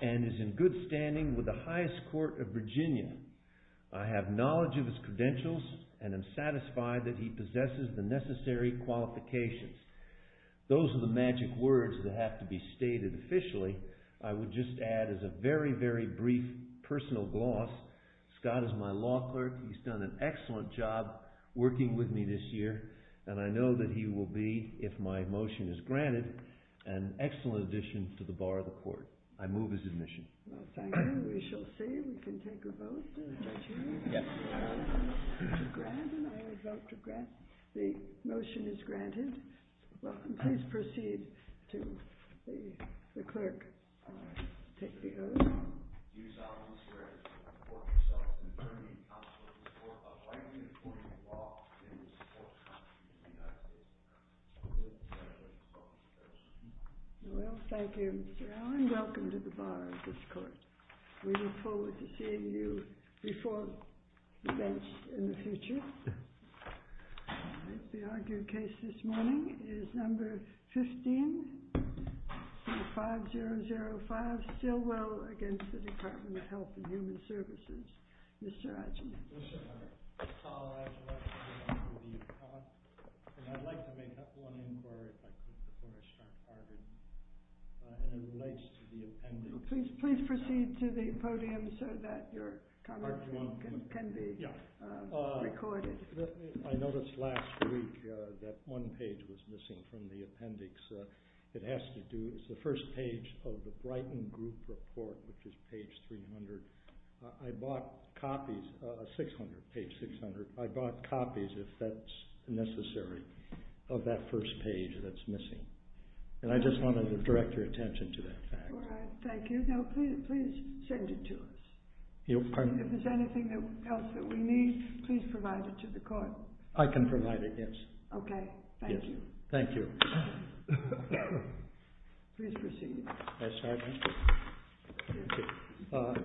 and is in good standing with the highest court of Virginia. I have knowledge of his credentials and am satisfied that he possesses the necessary qualifications. Those are the magic words that have to be stated officially. I would just add, as a very, very brief personal gloss, Scott is my law clerk. He's done an excellent job working with me this year, and I know that he will be, if my motion is granted, an excellent addition to the bar of the court. I move his admission. Well, thank you. We shall see. We can take a vote. Do I hear you? Yes. I vote to grant, and I would vote to grant. The motion is granted. Please proceed to the clerk. I take the oath. Mr. Allen, welcome to the bar of this court. We look forward to seeing you before the bench in the future. The argued case this morning is No. 15, C5005, Stillwell against the Department of Health and Human Services. Mr. Adjaman. Mr. Adjaman, I'd like to make one inquiry, if I could, before I start arguing, and it relates to the appendix. Please proceed to the podium so that your comment can be recorded. I noticed last week that one page was missing from the appendix. It has to do, it's the first page of the Brighton Group report, which is page 300. I bought copies, page 600, I bought copies, if that's necessary, of that first page that's missing, and I just wanted to direct your attention to that fact. All right, thank you. Now, please send it to us. Pardon? If there's anything else that we need, please provide it to the court. I can provide it, yes. Okay, thank you. Thank you. Please proceed. Yes, Your Honor.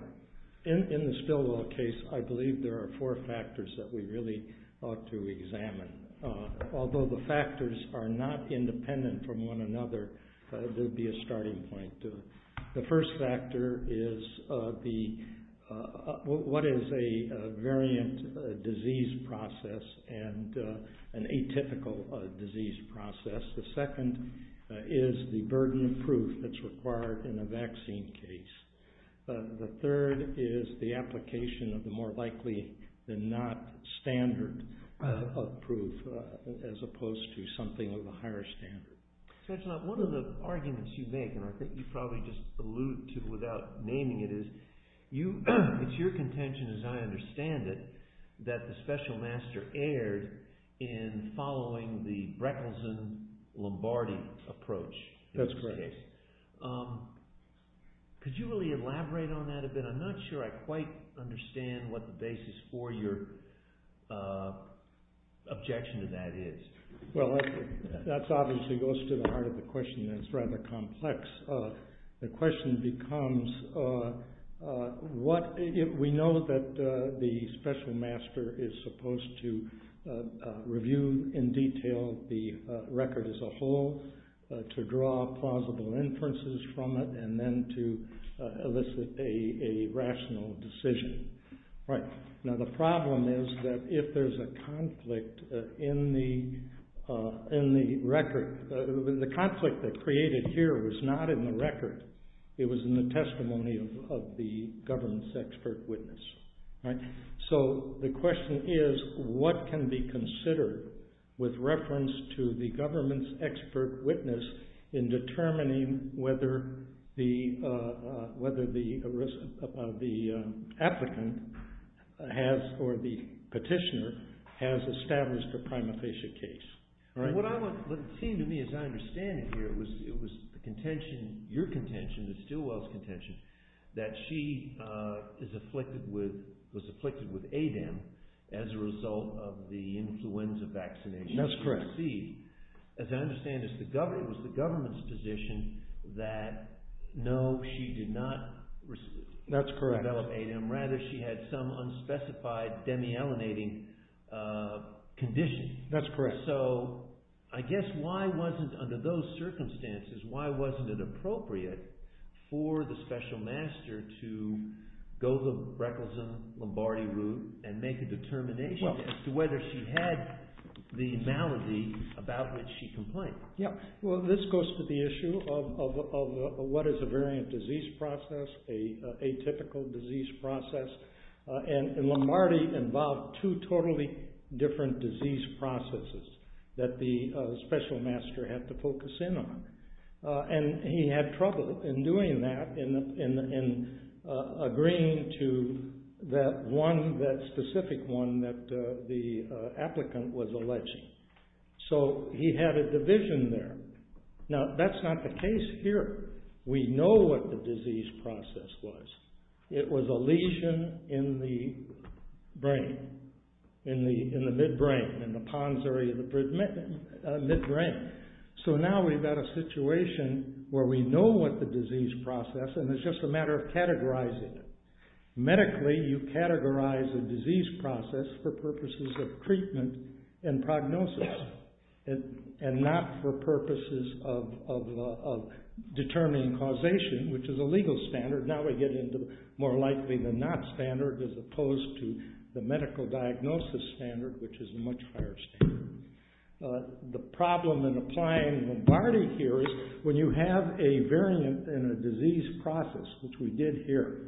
In the Stillwell case, I believe there are four factors that we really ought to examine. Although the factors are not independent from one another, there would be a starting point. The first factor is what is a variant disease process and an atypical disease process. The second is the burden of proof that's required in a vaccine case. The third is the application of the more likely than not standard of proof, as opposed to something of a higher standard. Judge Knott, one of the arguments you make, and I think you probably just alluded to it without naming it, is it's your contention, as I understand it, that the special master erred in following the Breckelsen-Lombardi approach. That's correct. Could you really elaborate on that a bit? I'm not sure I quite understand what the basis for your objection to that is. Well, that obviously goes to the heart of the question, and it's rather complex. The question becomes, we know that the special master is supposed to review in detail the whole, to draw plausible inferences from it, and then to elicit a rational decision. Now, the problem is that if there's a conflict in the record, the conflict that created here was not in the record. It was in the testimony of the government's expert witness. So, the question is, what can be considered with reference to the government's expert witness in determining whether the applicant has, or the petitioner, has established a prima facie case? What it seemed to me, as I understand it here, it was your contention, the Stilwell's contention, that she was afflicted with ADEM as a result of the influenza vaccination she received. That's correct. As I understand it, it was the government's position that no, she did not develop ADEM. Rather, she had some unspecified demyelinating condition. That's correct. So, I guess why wasn't, under those circumstances, why wasn't it appropriate for the special master to go the Breckelson-Lombardi route and make a determination as to whether she had the malady about which she complained? Well, this goes to the issue of what is a variant disease process, a typical disease process. And Lombardi involved two totally different disease processes that the special master had to focus in on. And he had trouble in doing that, in agreeing to that one, that specific one that the applicant was alleging. So, he had a division there. Now, that's not the case here. We know what the disease process was. It was a lesion in the brain, in the midbrain, in the Pons area of the midbrain. So, now we've got a situation where we know what the disease process, and it's just a matter of categorizing it. Medically, you categorize a disease process for purposes of treatment and prognosis, and not for purposes of determining causation, which is a legal standard. Now, we get into more likely the not standard, as opposed to the medical diagnosis standard, which is a much higher standard. The problem in applying Lombardi here is when you have a variant in a disease process, which we did here,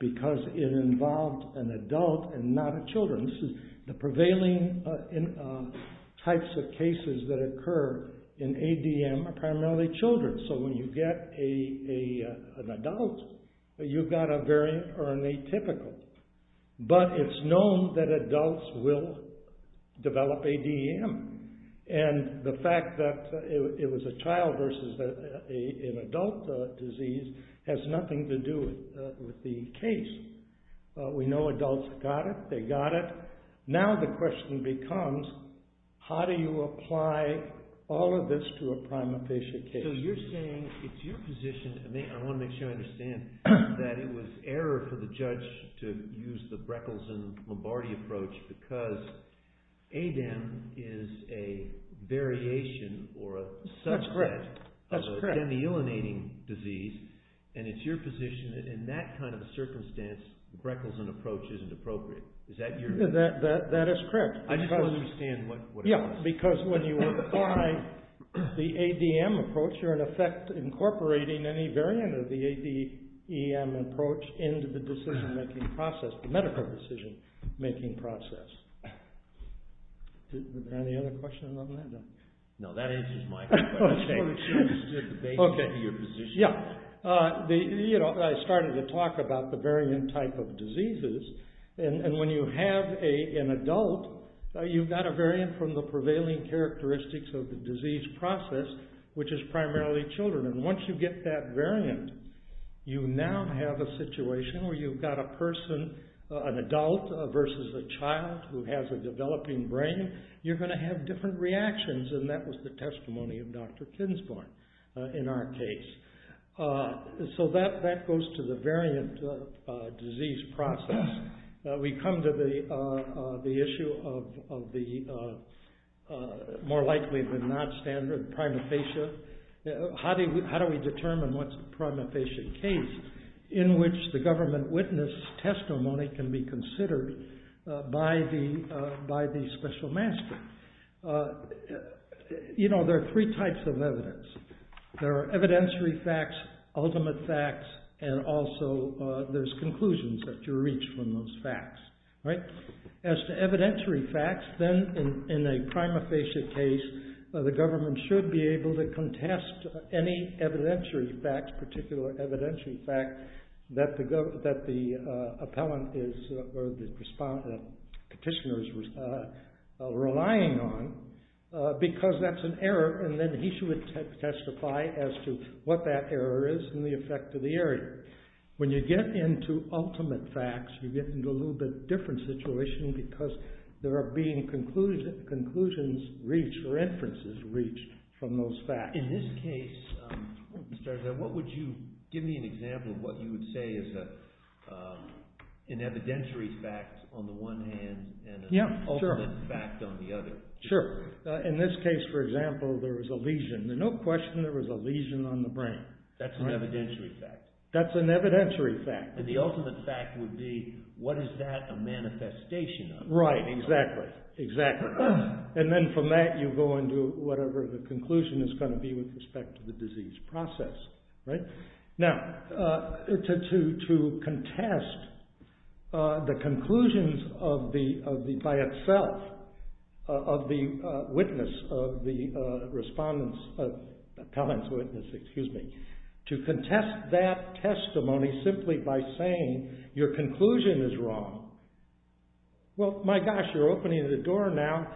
because it involved an adult and not a children. This is the prevailing types of cases that occur in ADM are primarily children. So, when you get an adult, you've got a variant or an atypical. But, it's known that adults will develop ADM. And, the fact that it was a child versus an adult disease has nothing to do with the case. We know adults got it. They got it. Now, the question becomes, how do you apply all of this to a prima facie case? So, you're saying it's your position, and I want to make sure I understand, that it was error for the judge to use the Breckels and Lombardi approach because ADM is a variation or a subset of a demyelinating disease. And, it's your position that in that kind of a circumstance, the Breckels and approach isn't appropriate. Is that your view? That is correct. I just don't understand what it was. Because, when you apply the ADM approach, you're, in effect, incorporating any variant of the ADM approach into the decision-making process, the medical decision-making process. Are there any other questions on that? No. That answers my question. Okay. Okay. Yeah. You know, I started to talk about the variant type of diseases. And, when you have an adult, you've got a variant from the prevailing characteristics of the disease process, which is primarily children. And, once you get that variant, you now have a situation where you've got a person, an adult versus a child who has a developing brain. You're going to have different reactions, and that was the testimony of Dr. Kinsborn in our case. So, that goes to the variant disease process. We come to the issue of the more likely than not standard prima facie. How do we determine what's the prima facie case in which the government witness testimony can be considered by the special master? You know, there are three types of evidence. There are evidentiary facts, ultimate facts, and also there's conclusions that you reach from those facts, right? As to evidentiary facts, then, in a prima facie case, the government should be able to contest any evidentiary facts, particular evidentiary fact, that the appellant is, or because that's an error, and then he should testify as to what that error is and the effect of the area. When you get into ultimate facts, you get into a little bit different situation because there are being conclusions reached or inferences reached from those facts. In this case, what would you, give me an example of what you would say is an evidentiary fact on the one hand and an ultimate fact on the other. Sure. In this case, for example, there was a lesion. There's no question there was a lesion on the brain. That's an evidentiary fact. That's an evidentiary fact. And the ultimate fact would be, what is that a manifestation of? Right. Exactly. Exactly. And then from that, you go into whatever the conclusion is going to be with respect to the disease process, right? Now, to contest the conclusions of the, by itself, of the witness, of the respondents, appellant's witness, excuse me, to contest that testimony simply by saying your conclusion is wrong. Well, my gosh, you're opening the door now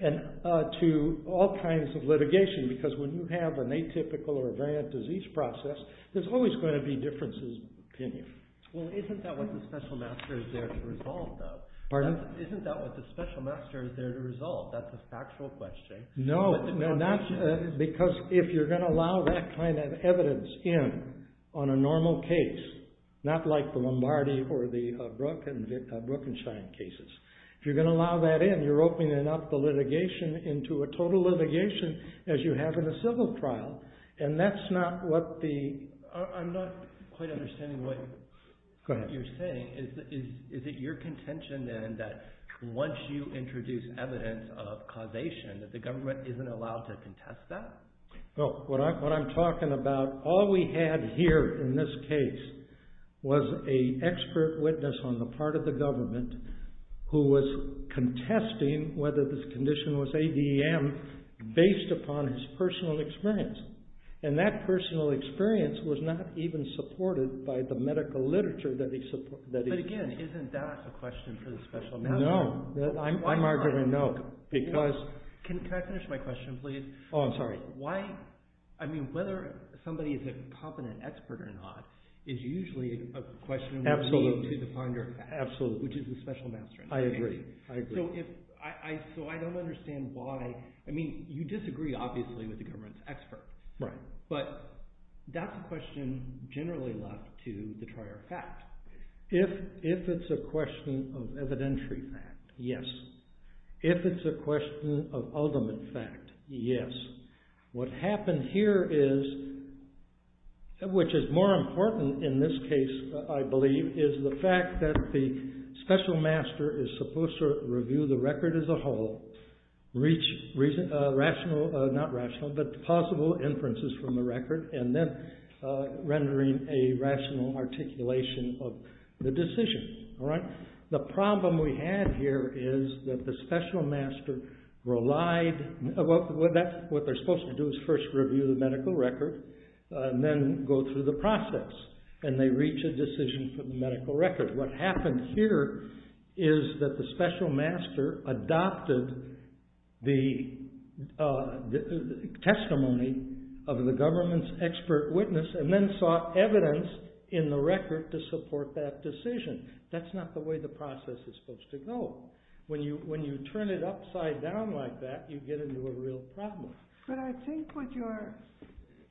to all kinds of litigation because when you have an atypical or a variant disease process, there's always going to be differences of opinion. Well, isn't that what the special master is there to resolve, though? Pardon? Isn't that what the special master is there to resolve? That's a factual question. No. No, not, because if you're going to allow that kind of evidence in on a normal case, not like the Lombardi or the Brookenshine cases. If you're going to allow that in, you're opening up the litigation into a total litigation as you have in a civil trial, and that's not what the, I'm not quite understanding what you're saying. Go ahead. Is it your contention, then, that once you introduce evidence of causation that the government isn't allowed to contest that? Well, what I'm talking about, all we had here in this case was an expert witness on the part of the government who was contesting whether this condition was ADM based upon his personal experience, and that personal experience was not even supported by the medical literature that he... But again, isn't that a question for the special master? No. I'm arguing no, because... Can I finish my question, please? Oh, I'm sorry. Why, I mean, whether somebody is a competent expert or not is usually a question... Absolutely. ...to the ponder... Absolutely. ...which is the special master. I agree. I agree. So I don't understand why... I mean, you disagree, obviously, with the government's expert. Right. But that's a question generally left to the prior fact. If it's a question of evidentiary fact, yes. If it's a question of ultimate fact, yes. What happened here is, which is more important in this case, I believe, is the fact that the special master is supposed to review the record as a whole, reach possible inferences from the record, and then rendering a rational articulation of the decision. All right? What they're supposed to do is first review the medical record, and then go through the process, and they reach a decision for the medical record. What happened here is that the special master adopted the testimony of the government's expert witness, and then sought evidence in the record to support that decision. That's not the way the process is supposed to go. When you turn it upside down like that, you get into a real problem. But I think what you're...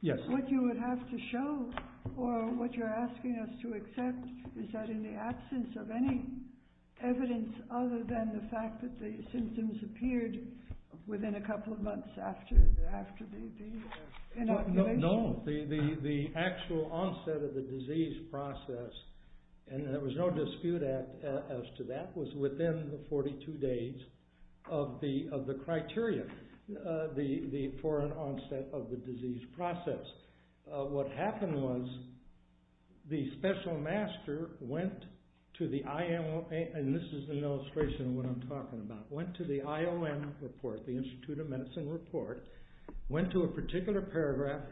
Yes. What you would have to show, or what you're asking us to accept, is that in the absence of any evidence other than the fact that the symptoms appeared within a couple of months after the inoculation... No. The actual onset of the disease process, and there was no dispute as to that, was within the 42 days of the criteria for an onset of the disease process. What happened was the special master went to the IOM, and this is an illustration of what I'm talking about, went to the IOM report, the Institute of Medicine report, went to a particular paragraph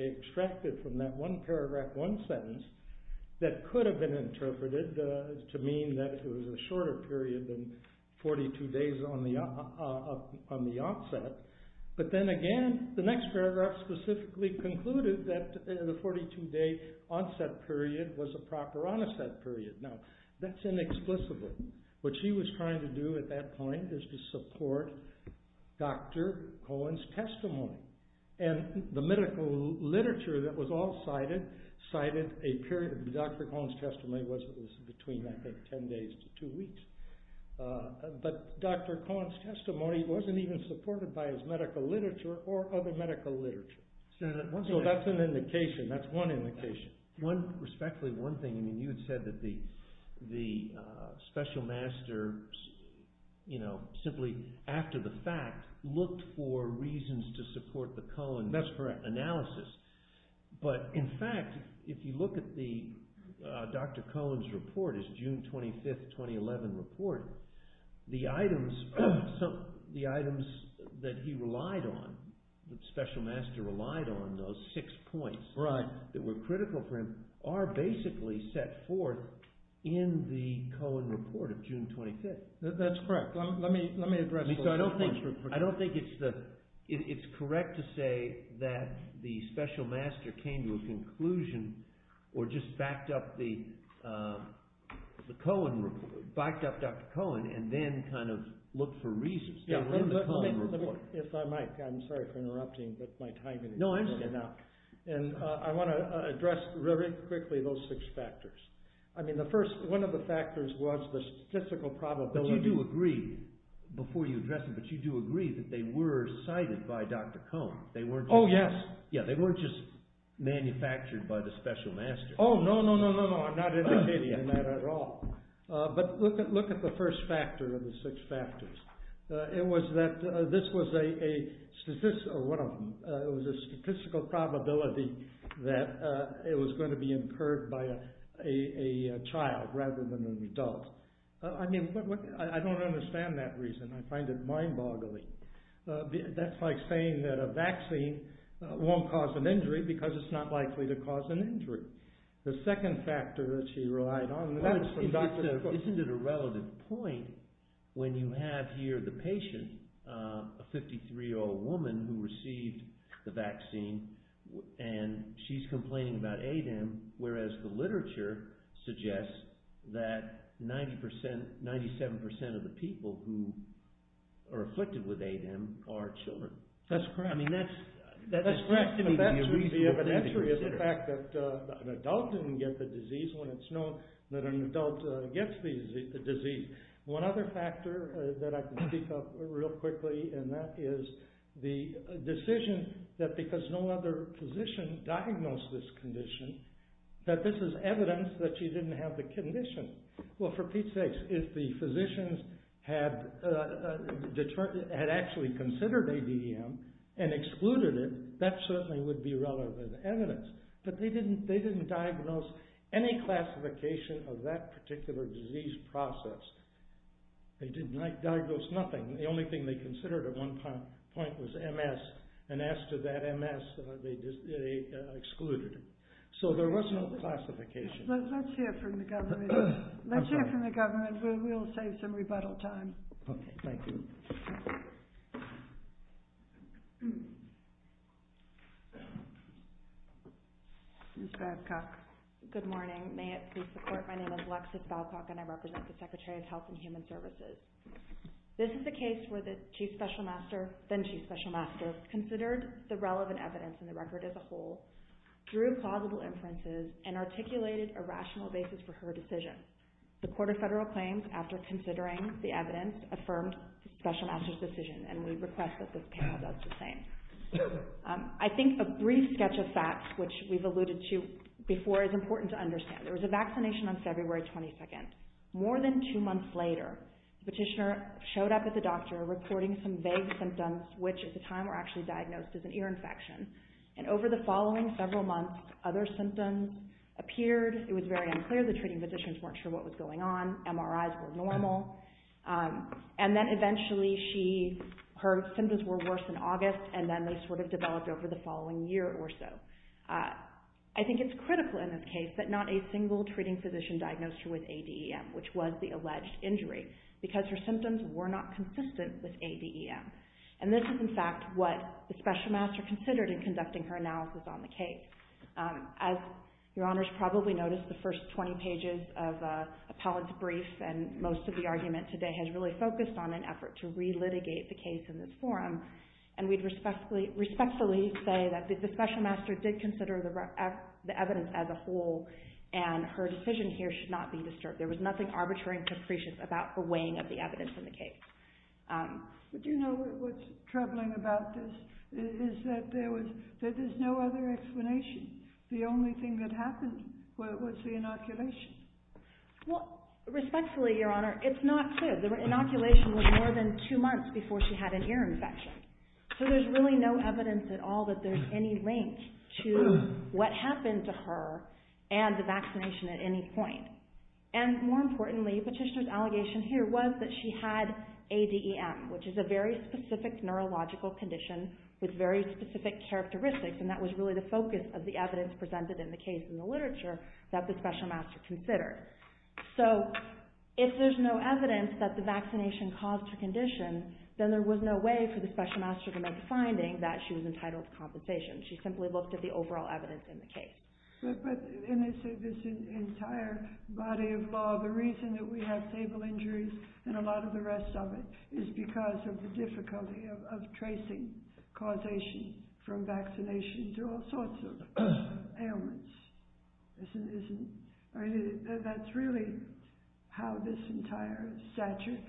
extracted from that one paragraph, one sentence, that could have been interpreted to mean that it was a shorter period than 42 days on the onset. But then again, the next paragraph specifically concluded that the 42-day onset period was a proper onset period. Now, that's inexplicable. What she was trying to do at that point is to support Dr. Cohen's testimony. And the medical literature that was all cited, cited a period of Dr. Cohen's testimony was between, I think, 10 days to two weeks. But Dr. Cohen's testimony wasn't even supported by his medical literature or other medical literature. So that's an indication. That's one indication. Respectfully, one thing. You had said that the special master, simply after the fact, looked for reasons to support the Cohen analysis. That's correct. But in fact, if you look at Dr. Cohen's report, his June 25, 2011 report, the items that he relied on, the special master relied on, those six points that were critical for him, are basically set forth in the Cohen report of June 25. That's correct. Let me address those points. I don't think it's correct to say that the special master came to a conclusion or just backed up the Cohen report, backed up Dr. Cohen, and then kind of looked for reasons in the Cohen report. If I might, I'm sorry for interrupting, but my time is running out. No, I understand. And I want to address very quickly those six factors. I mean, one of the factors was the statistical probability. But you do agree, before you address it, but you do agree that they were cited by Dr. Cohen. Oh, yes. Yeah, they weren't just manufactured by the special master. Oh, no, no, no, no, no. I'm not indicating that at all. But look at the first factor of the six factors. It was that this was a statistical, or one of them, it was a statistical probability that it was going to be incurred by a child rather than an adult. I mean, I don't understand that reason. I find it mind-boggling. That's like saying that a vaccine won't cause an injury because it's not likely to cause an injury. The second factor that she relied on, and that was from Dr. Cohen. Isn't it a relative point when you have here the patient, a 53-year-old woman who received the vaccine, and she's complaining about ADEM, whereas the literature suggests that 90%, 97% of the people who are afflicted with ADEM are children? That's correct. I mean, that seems to me to be a reasonable thing to consider. The fact that an adult didn't get the disease when it's known that an adult gets the disease. One other factor that I can speak of real quickly, and that is the decision that because no other physician diagnosed this condition, that this is evidence that she didn't have the condition. Well, for Pete's sakes, if the physicians had actually considered ADEM and excluded it, that certainly would be relevant evidence, but they didn't diagnose any classification of that particular disease process. They didn't diagnose nothing. The only thing they considered at one point was MS, and as to that MS, they excluded it. So, there was no classification. Let's hear from the government. We'll save some rebuttal time. Okay, thank you. Ms. Babcock. Good morning. May it please the Court, my name is Alexis Babcock, and I represent the Secretary of Health and Human Services. This is a case where the Chief Special Master, then Chief Special Master, considered the relevant evidence in the record as a whole, drew plausible inferences, and articulated a rational basis for her decision. The Court of Federal Claims, after considering the evidence, affirmed the Special Master's decision, and we request that this panel does the same. I think a brief sketch of facts, which we've alluded to before, is important to understand. There was a vaccination on February 22nd. More than two months later, the petitioner showed up at the doctor, reporting some vague symptoms, which at the time were actually diagnosed as an ear infection, and over the following several months, other symptoms appeared. It was very unclear. The treating physicians weren't sure what was going on. MRIs were normal. And then eventually, her symptoms were worse in August, and then they sort of developed over the following year or so. I think it's critical in this case that not a single treating physician diagnosed her with ADEM, which was the alleged injury, because her symptoms were not consistent with ADEM. And this is, in fact, what the Special Master considered in conducting her analysis on the case. As Your Honors probably noticed, the first 20 pages of Appellate's brief, and most of the argument today, has really focused on an effort to re-litigate the case in this forum. And we'd respectfully say that the Special Master did consider the evidence as a whole, and her decision here should not be disturbed. There was nothing arbitrary and capricious about the weighing of the evidence in the case. But do you know what's troubling about this? Is that there's no other explanation. The only thing that happened was the inoculation. Well, respectfully, Your Honor, it's not clear. The inoculation was more than two months before she had an ear infection. So there's really no evidence at all that there's any link to what happened to her and the vaccination at any point. And more importantly, Petitioner's allegation here was that she had ADEM, which is a very specific neurological condition with very specific characteristics, and that was really the focus of the evidence presented in the case in the literature that the Special Master considered. So if there's no evidence that the vaccination caused her condition, then there was no way for the Special Master to make the finding that she was entitled to compensation. She simply looked at the overall evidence in the case. But in this entire body of law, the reason that we have stable injuries and a lot of the rest of it is because of the difficulty of tracing causation from vaccinations. There are all sorts of ailments. That's really how this entire statute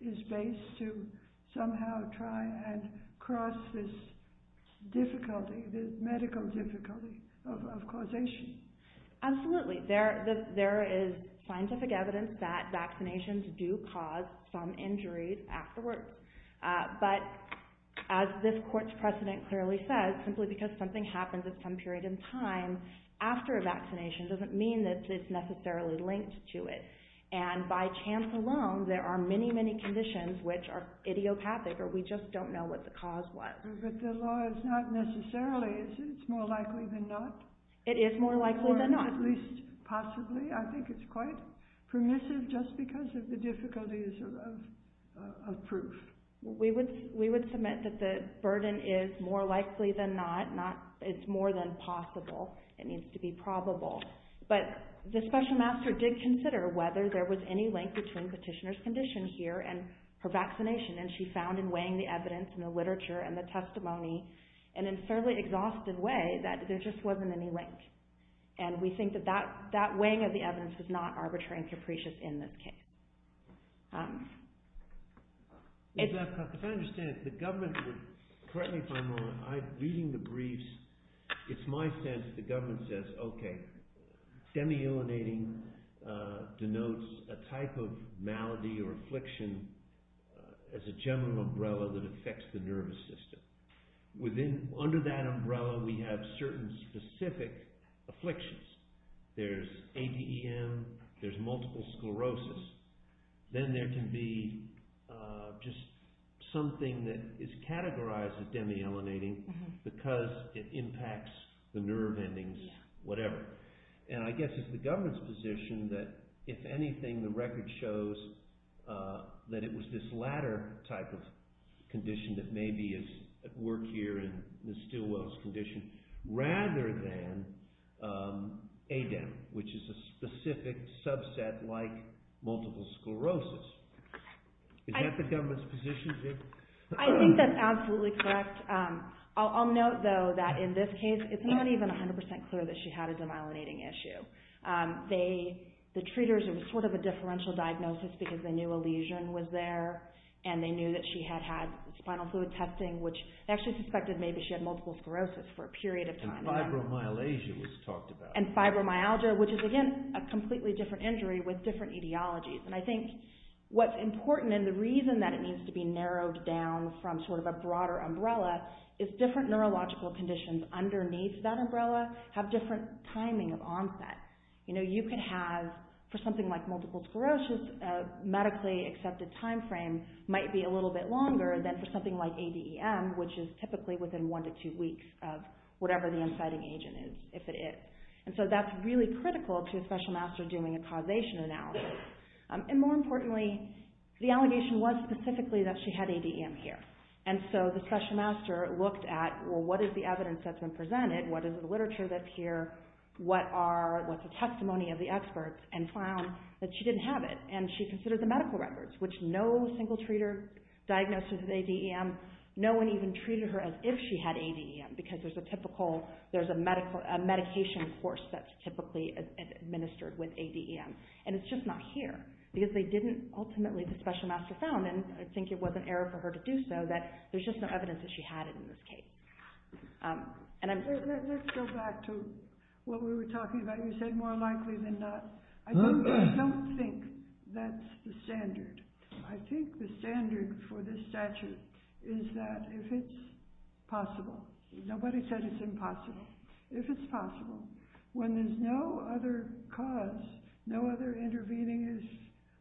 is based, to somehow try and cross this difficulty, this medical difficulty of causation. Absolutely. There is scientific evidence that vaccinations do cause some injuries afterwards. But as this court's precedent clearly says, simply because something happens at some period in time after a vaccination doesn't mean that it's necessarily linked to it. And by chance alone, there are many, many conditions which are idiopathic or we just don't know what the cause was. But the law is not necessarily, is it? It's more likely than not? It is more likely than not. Or at least possibly, I think it's quite permissive just because of the difficulties of proof. We would submit that the burden is more likely than not. It's more than possible. It needs to be probable. But the special master did consider whether there was any link between petitioner's condition here and her vaccination, and she found in weighing the evidence and the literature and the testimony, and in a fairly exhaustive way, that there just wasn't any link. And we think that that weighing of the evidence was not arbitrary and capricious in this case. If I understand, the government would correct me if I'm wrong. I'm reading the briefs. It's my sense that the government says, okay, demyelinating denotes a type of malady or affliction as a general umbrella that affects the nervous system. Under that umbrella, we have certain specific afflictions. There's ADEM. There's multiple sclerosis. Then there can be just something that is categorized as demyelinating because it impacts the nerve endings, whatever. And I guess it's the government's position that, if anything, the record shows that it was this latter type of condition that may be at work here in Ms. Stilwell's condition rather than ADEM, which is a specific subset like multiple sclerosis. Is that the government's position, Viv? I think that's absolutely correct. I'll note, though, that in this case, it's not even 100% clear that she had a demyelinating issue. The treaters, it was sort of a differential diagnosis because they knew a lesion was there and they knew that she had had spinal fluid testing, which they actually suspected maybe she had multiple sclerosis for a period of time. And fibromyalgia was talked about. And fibromyalgia, which is, again, a completely different injury with different etiologies. And I think what's important and the reason that it needs to be narrowed down from sort of a broader umbrella is different neurological conditions underneath that umbrella have different timing of onset. You know, you can have, for something like multiple sclerosis, a medically accepted timeframe might be a little bit longer than for something like ADEM, which is typically within one to two weeks of whatever the inciting agent is, if it is. And so that's really critical to a special master doing a causation analysis. And more importantly, the allegation was specifically that she had ADEM here. And so the special master looked at, well, what is the evidence that's been presented? What is the literature that's here? What's the testimony of the experts? And found that she didn't have it. And she considered the medical records, which no single treater diagnosed with ADEM. No one even treated her as if she had ADEM, because there's a typical, there's a medical, a medication course that's typically administered with ADEM. And it's just not here, because they didn't ultimately, the special master found, and I think it was an error for her to do so, that there's just no evidence that she had it in this case. And I'm... Let's go back to what we were talking about. You said more likely than not. I don't think that's the standard. I think the standard for this statute is that if it's possible, nobody said it's impossible. If it's possible, when there's no other cause, no other intervening is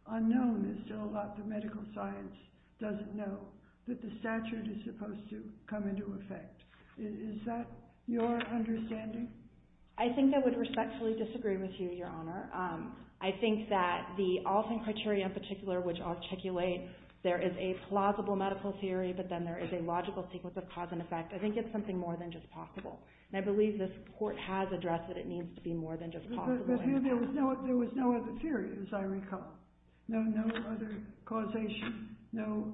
unknown, there's still a lot the medical science doesn't know, that the statute is supposed to come into effect. Is that your understanding? I think I would respectfully disagree with you, Your Honor. I think that the Alton criteria in particular, which articulate there is a plausible medical theory, but then there is a logical sequence of cause and effect, I think it's something more than just possible. And I believe this Court has addressed that it needs to be more than just possible. But here there was no other theory, as I recall. No other causation, no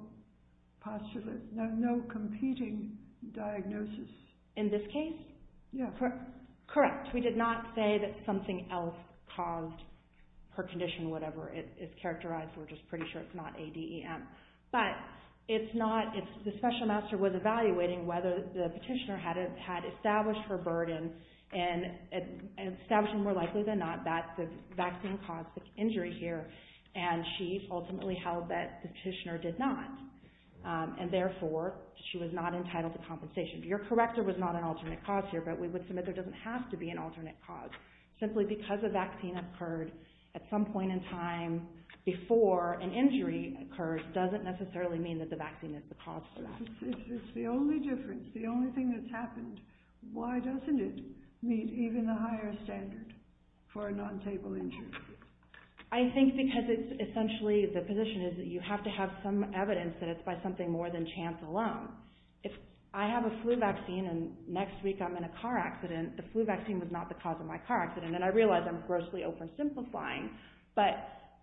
postulate, no competing diagnosis. In this case? Correct. We did not say that something else caused her condition, whatever it is characterized. We're just pretty sure it's not ADEM. But the Special Master was evaluating whether the petitioner had established her burden and establishing more likely than not that the vaccine caused the injury here, and she ultimately held that the petitioner did not. And therefore, she was not entitled to compensation. Your corrector was not an alternate cause here, but we would submit there doesn't have to be an alternate cause. Simply because a vaccine occurred at some point in time before an injury occurs doesn't necessarily mean that the vaccine is the cause for that. If it's the only difference, the only thing that's happened, why doesn't it meet even the higher standard for a non-table injury? I think because it's essentially the position is that you have to have some evidence that it's by something more than chance alone. If I have a flu vaccine and next week I'm in a car accident, the flu vaccine was not the cause of my car accident. And I realize I'm grossly oversimplifying, but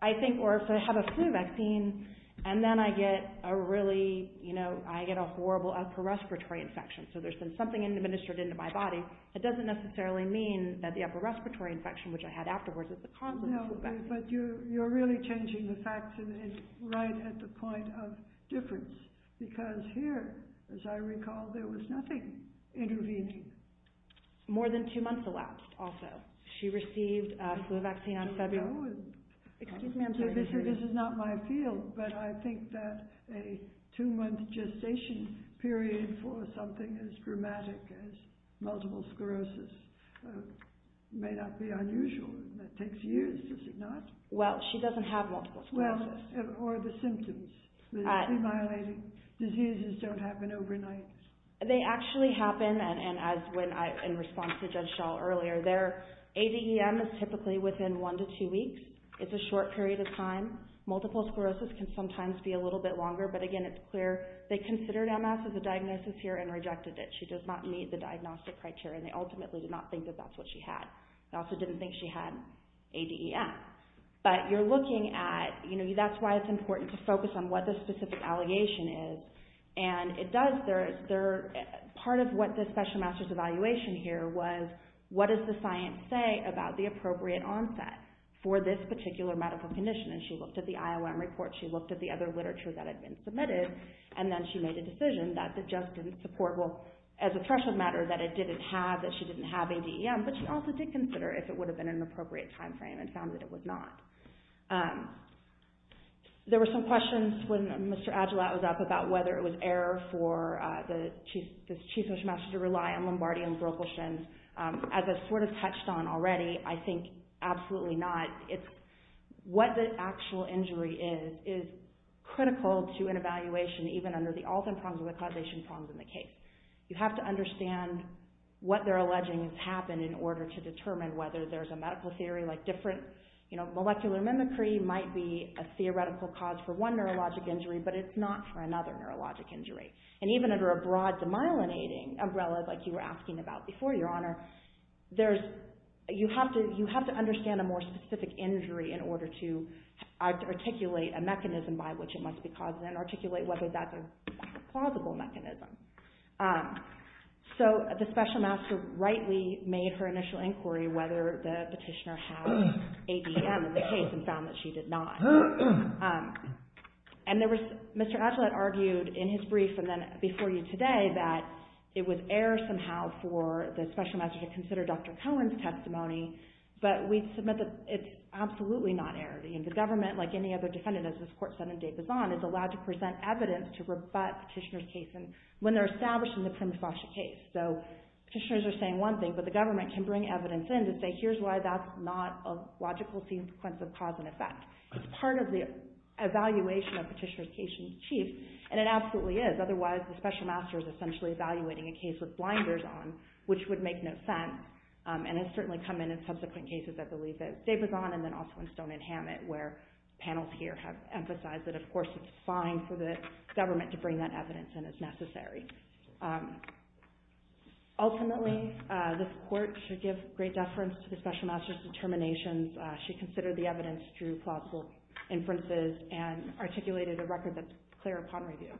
I think, or if I have a flu vaccine and then I get a really, you know, I get a horrible upper respiratory infection, so there's been something administered into my body, it doesn't necessarily mean that the upper respiratory infection, which I had afterwards, is the cause of the flu vaccine. But you're really changing the facts right at the point of difference. Because here, as I recall, there was nothing intervening. More than two months elapsed, also. She received a flu vaccine in February. This is not my field, but I think that a two-month gestation period for something as dramatic as multiple sclerosis may not be unusual. That takes years, does it not? Well, she doesn't have multiple sclerosis. Well, or the symptoms. Diseases don't happen overnight. They actually happen, and as when I, in response to Judge Shaw earlier, their ADEM is typically within one to two weeks. It's a short period of time. Multiple sclerosis can sometimes be a little bit longer, but again, it's clear. They considered MS as a diagnosis here and rejected it. She does not meet the diagnostic criteria. They ultimately did not think that that's what she had. They also didn't think she had ADEM. But you're looking at, you know, that's why it's important to focus on what the specific allegation is, and it does. Part of what this special master's evaluation here was, what does the science say about the appropriate onset for this particular medical condition? And she looked at the IOM report. She looked at the other literature that had been submitted, and then she made a decision that the judge didn't support. Well, as a threshold matter, that it didn't have, that she didn't have ADEM, but she also did consider if it would have been an appropriate timeframe and found that it was not. There were some questions when Mr. Agilat was up about whether it was error for the chief social master to rely on Lombardi and Brokelshins. As I sort of touched on already, I think absolutely not. It's what the actual injury is, is critical to an evaluation, even under the all-time prongs or the causation prongs in the case. You have to understand what they're alleging has happened in order to determine whether there's a medical theory like different, you know, molecular mimicry might be a theoretical cause for one neurologic injury, but it's not for another neurologic injury. And even under a broad demyelinating umbrella, like you were asking about before, Your Honor, there's, you have to, you have to understand a more specific injury in order to articulate a mechanism by which it must be caused and articulate whether that's a plausible mechanism. So, the special master rightly made her initial inquiry whether the petitioner had ADEM in the case and found that she did not. And there was, Mr. Agilat argued in his brief and then before you today that it was error somehow for the special master to consider Dr. Cohen's testimony, but we'd submit that it's absolutely not error. I mean, the government, like any other defendant, as this court said in de Besson, is allowed to present evidence to rebut petitioner's case when they're establishing the prima facie case. So, petitioners are saying one thing, but the government can bring evidence in to say here's why that's not a logical sequence of cause and effect. It's part of the evaluation of petitioner's case in its chief, and it absolutely is. Otherwise, the special master is essentially evaluating a case with blinders on, which would make no sense, and has certainly come in in subsequent cases, I believe, that de Besson and then also in Stone and Hammett, where panels here have emphasized that, of course, it's fine for the government to bring that evidence in as necessary. Ultimately, this court should give great deference to the special master's determinations. She considered the evidence through plausible inferences and articulated a record that's clear upon review.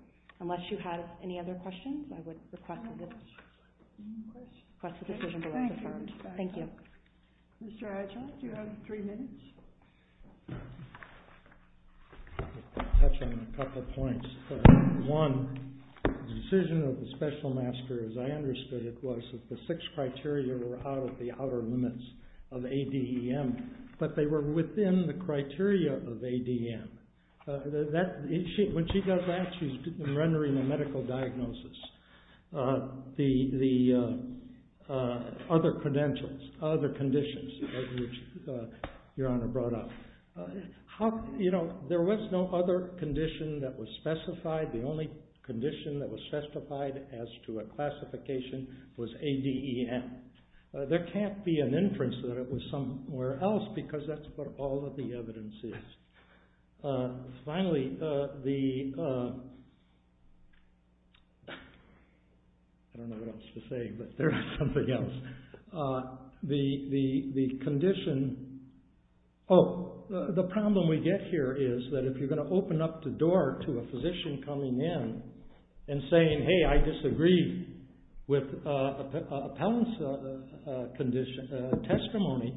Unless you have any other questions, I would request that this... ...question? ...question. Thank you. Mr. Archulette, you have three minutes. I'll touch on a couple points. One, the decision of the special master, as I understood it, was that the six criteria were out of the outer limits of ADEM, but they were within the criteria of ADEM. When she does that, she's rendering a medical diagnosis. The other credentials, other conditions, which Your Honor brought up. There was no other condition that was specified. The only condition that was specified as to a classification was ADEM. There can't be an inference that it was somewhere else, because that's what all of the evidence is. Finally, the... I don't know what else to say, but there's something else. The condition... Oh, the problem we get here is that if you're going to open up the door to a physician coming in and saying, hey, I disagree with appellant's testimony,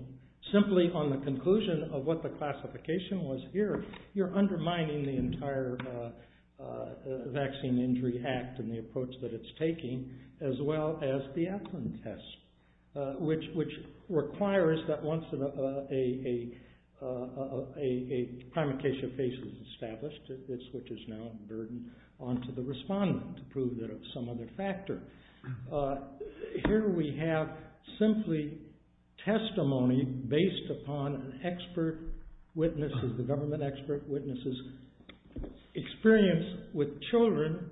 simply on the conclusion of what the classification was here, you're undermining the entire Vaccine Injury Act and the approach that it's taking, as well as the appellant test, which requires that once a primacasia phase is established, it switches now the burden onto the respondent to prove that it was some other factor. Here we have simply testimony based upon expert witnesses, the government expert witnesses experience with children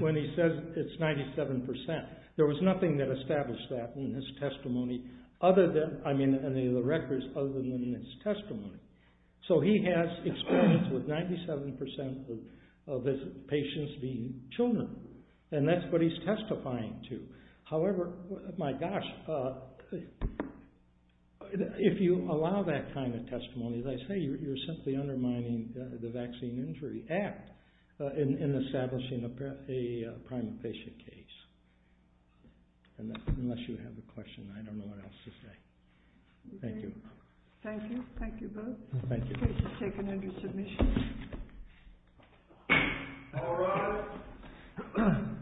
when he says it's 97%. There was nothing that established that in his testimony other than... I mean, any of the records other than in his testimony. So he has experience with 97% of his patients being children, and that's what he's testifying to. However, my gosh, if you allow that kind of testimony, as I say, you're simply undermining the Vaccine Injury Act in establishing a primacasia case. Unless you have a question, I don't know what else to say. Thank you. Thank you. Thank you both. Thank you. Case is taken under submission. All rise.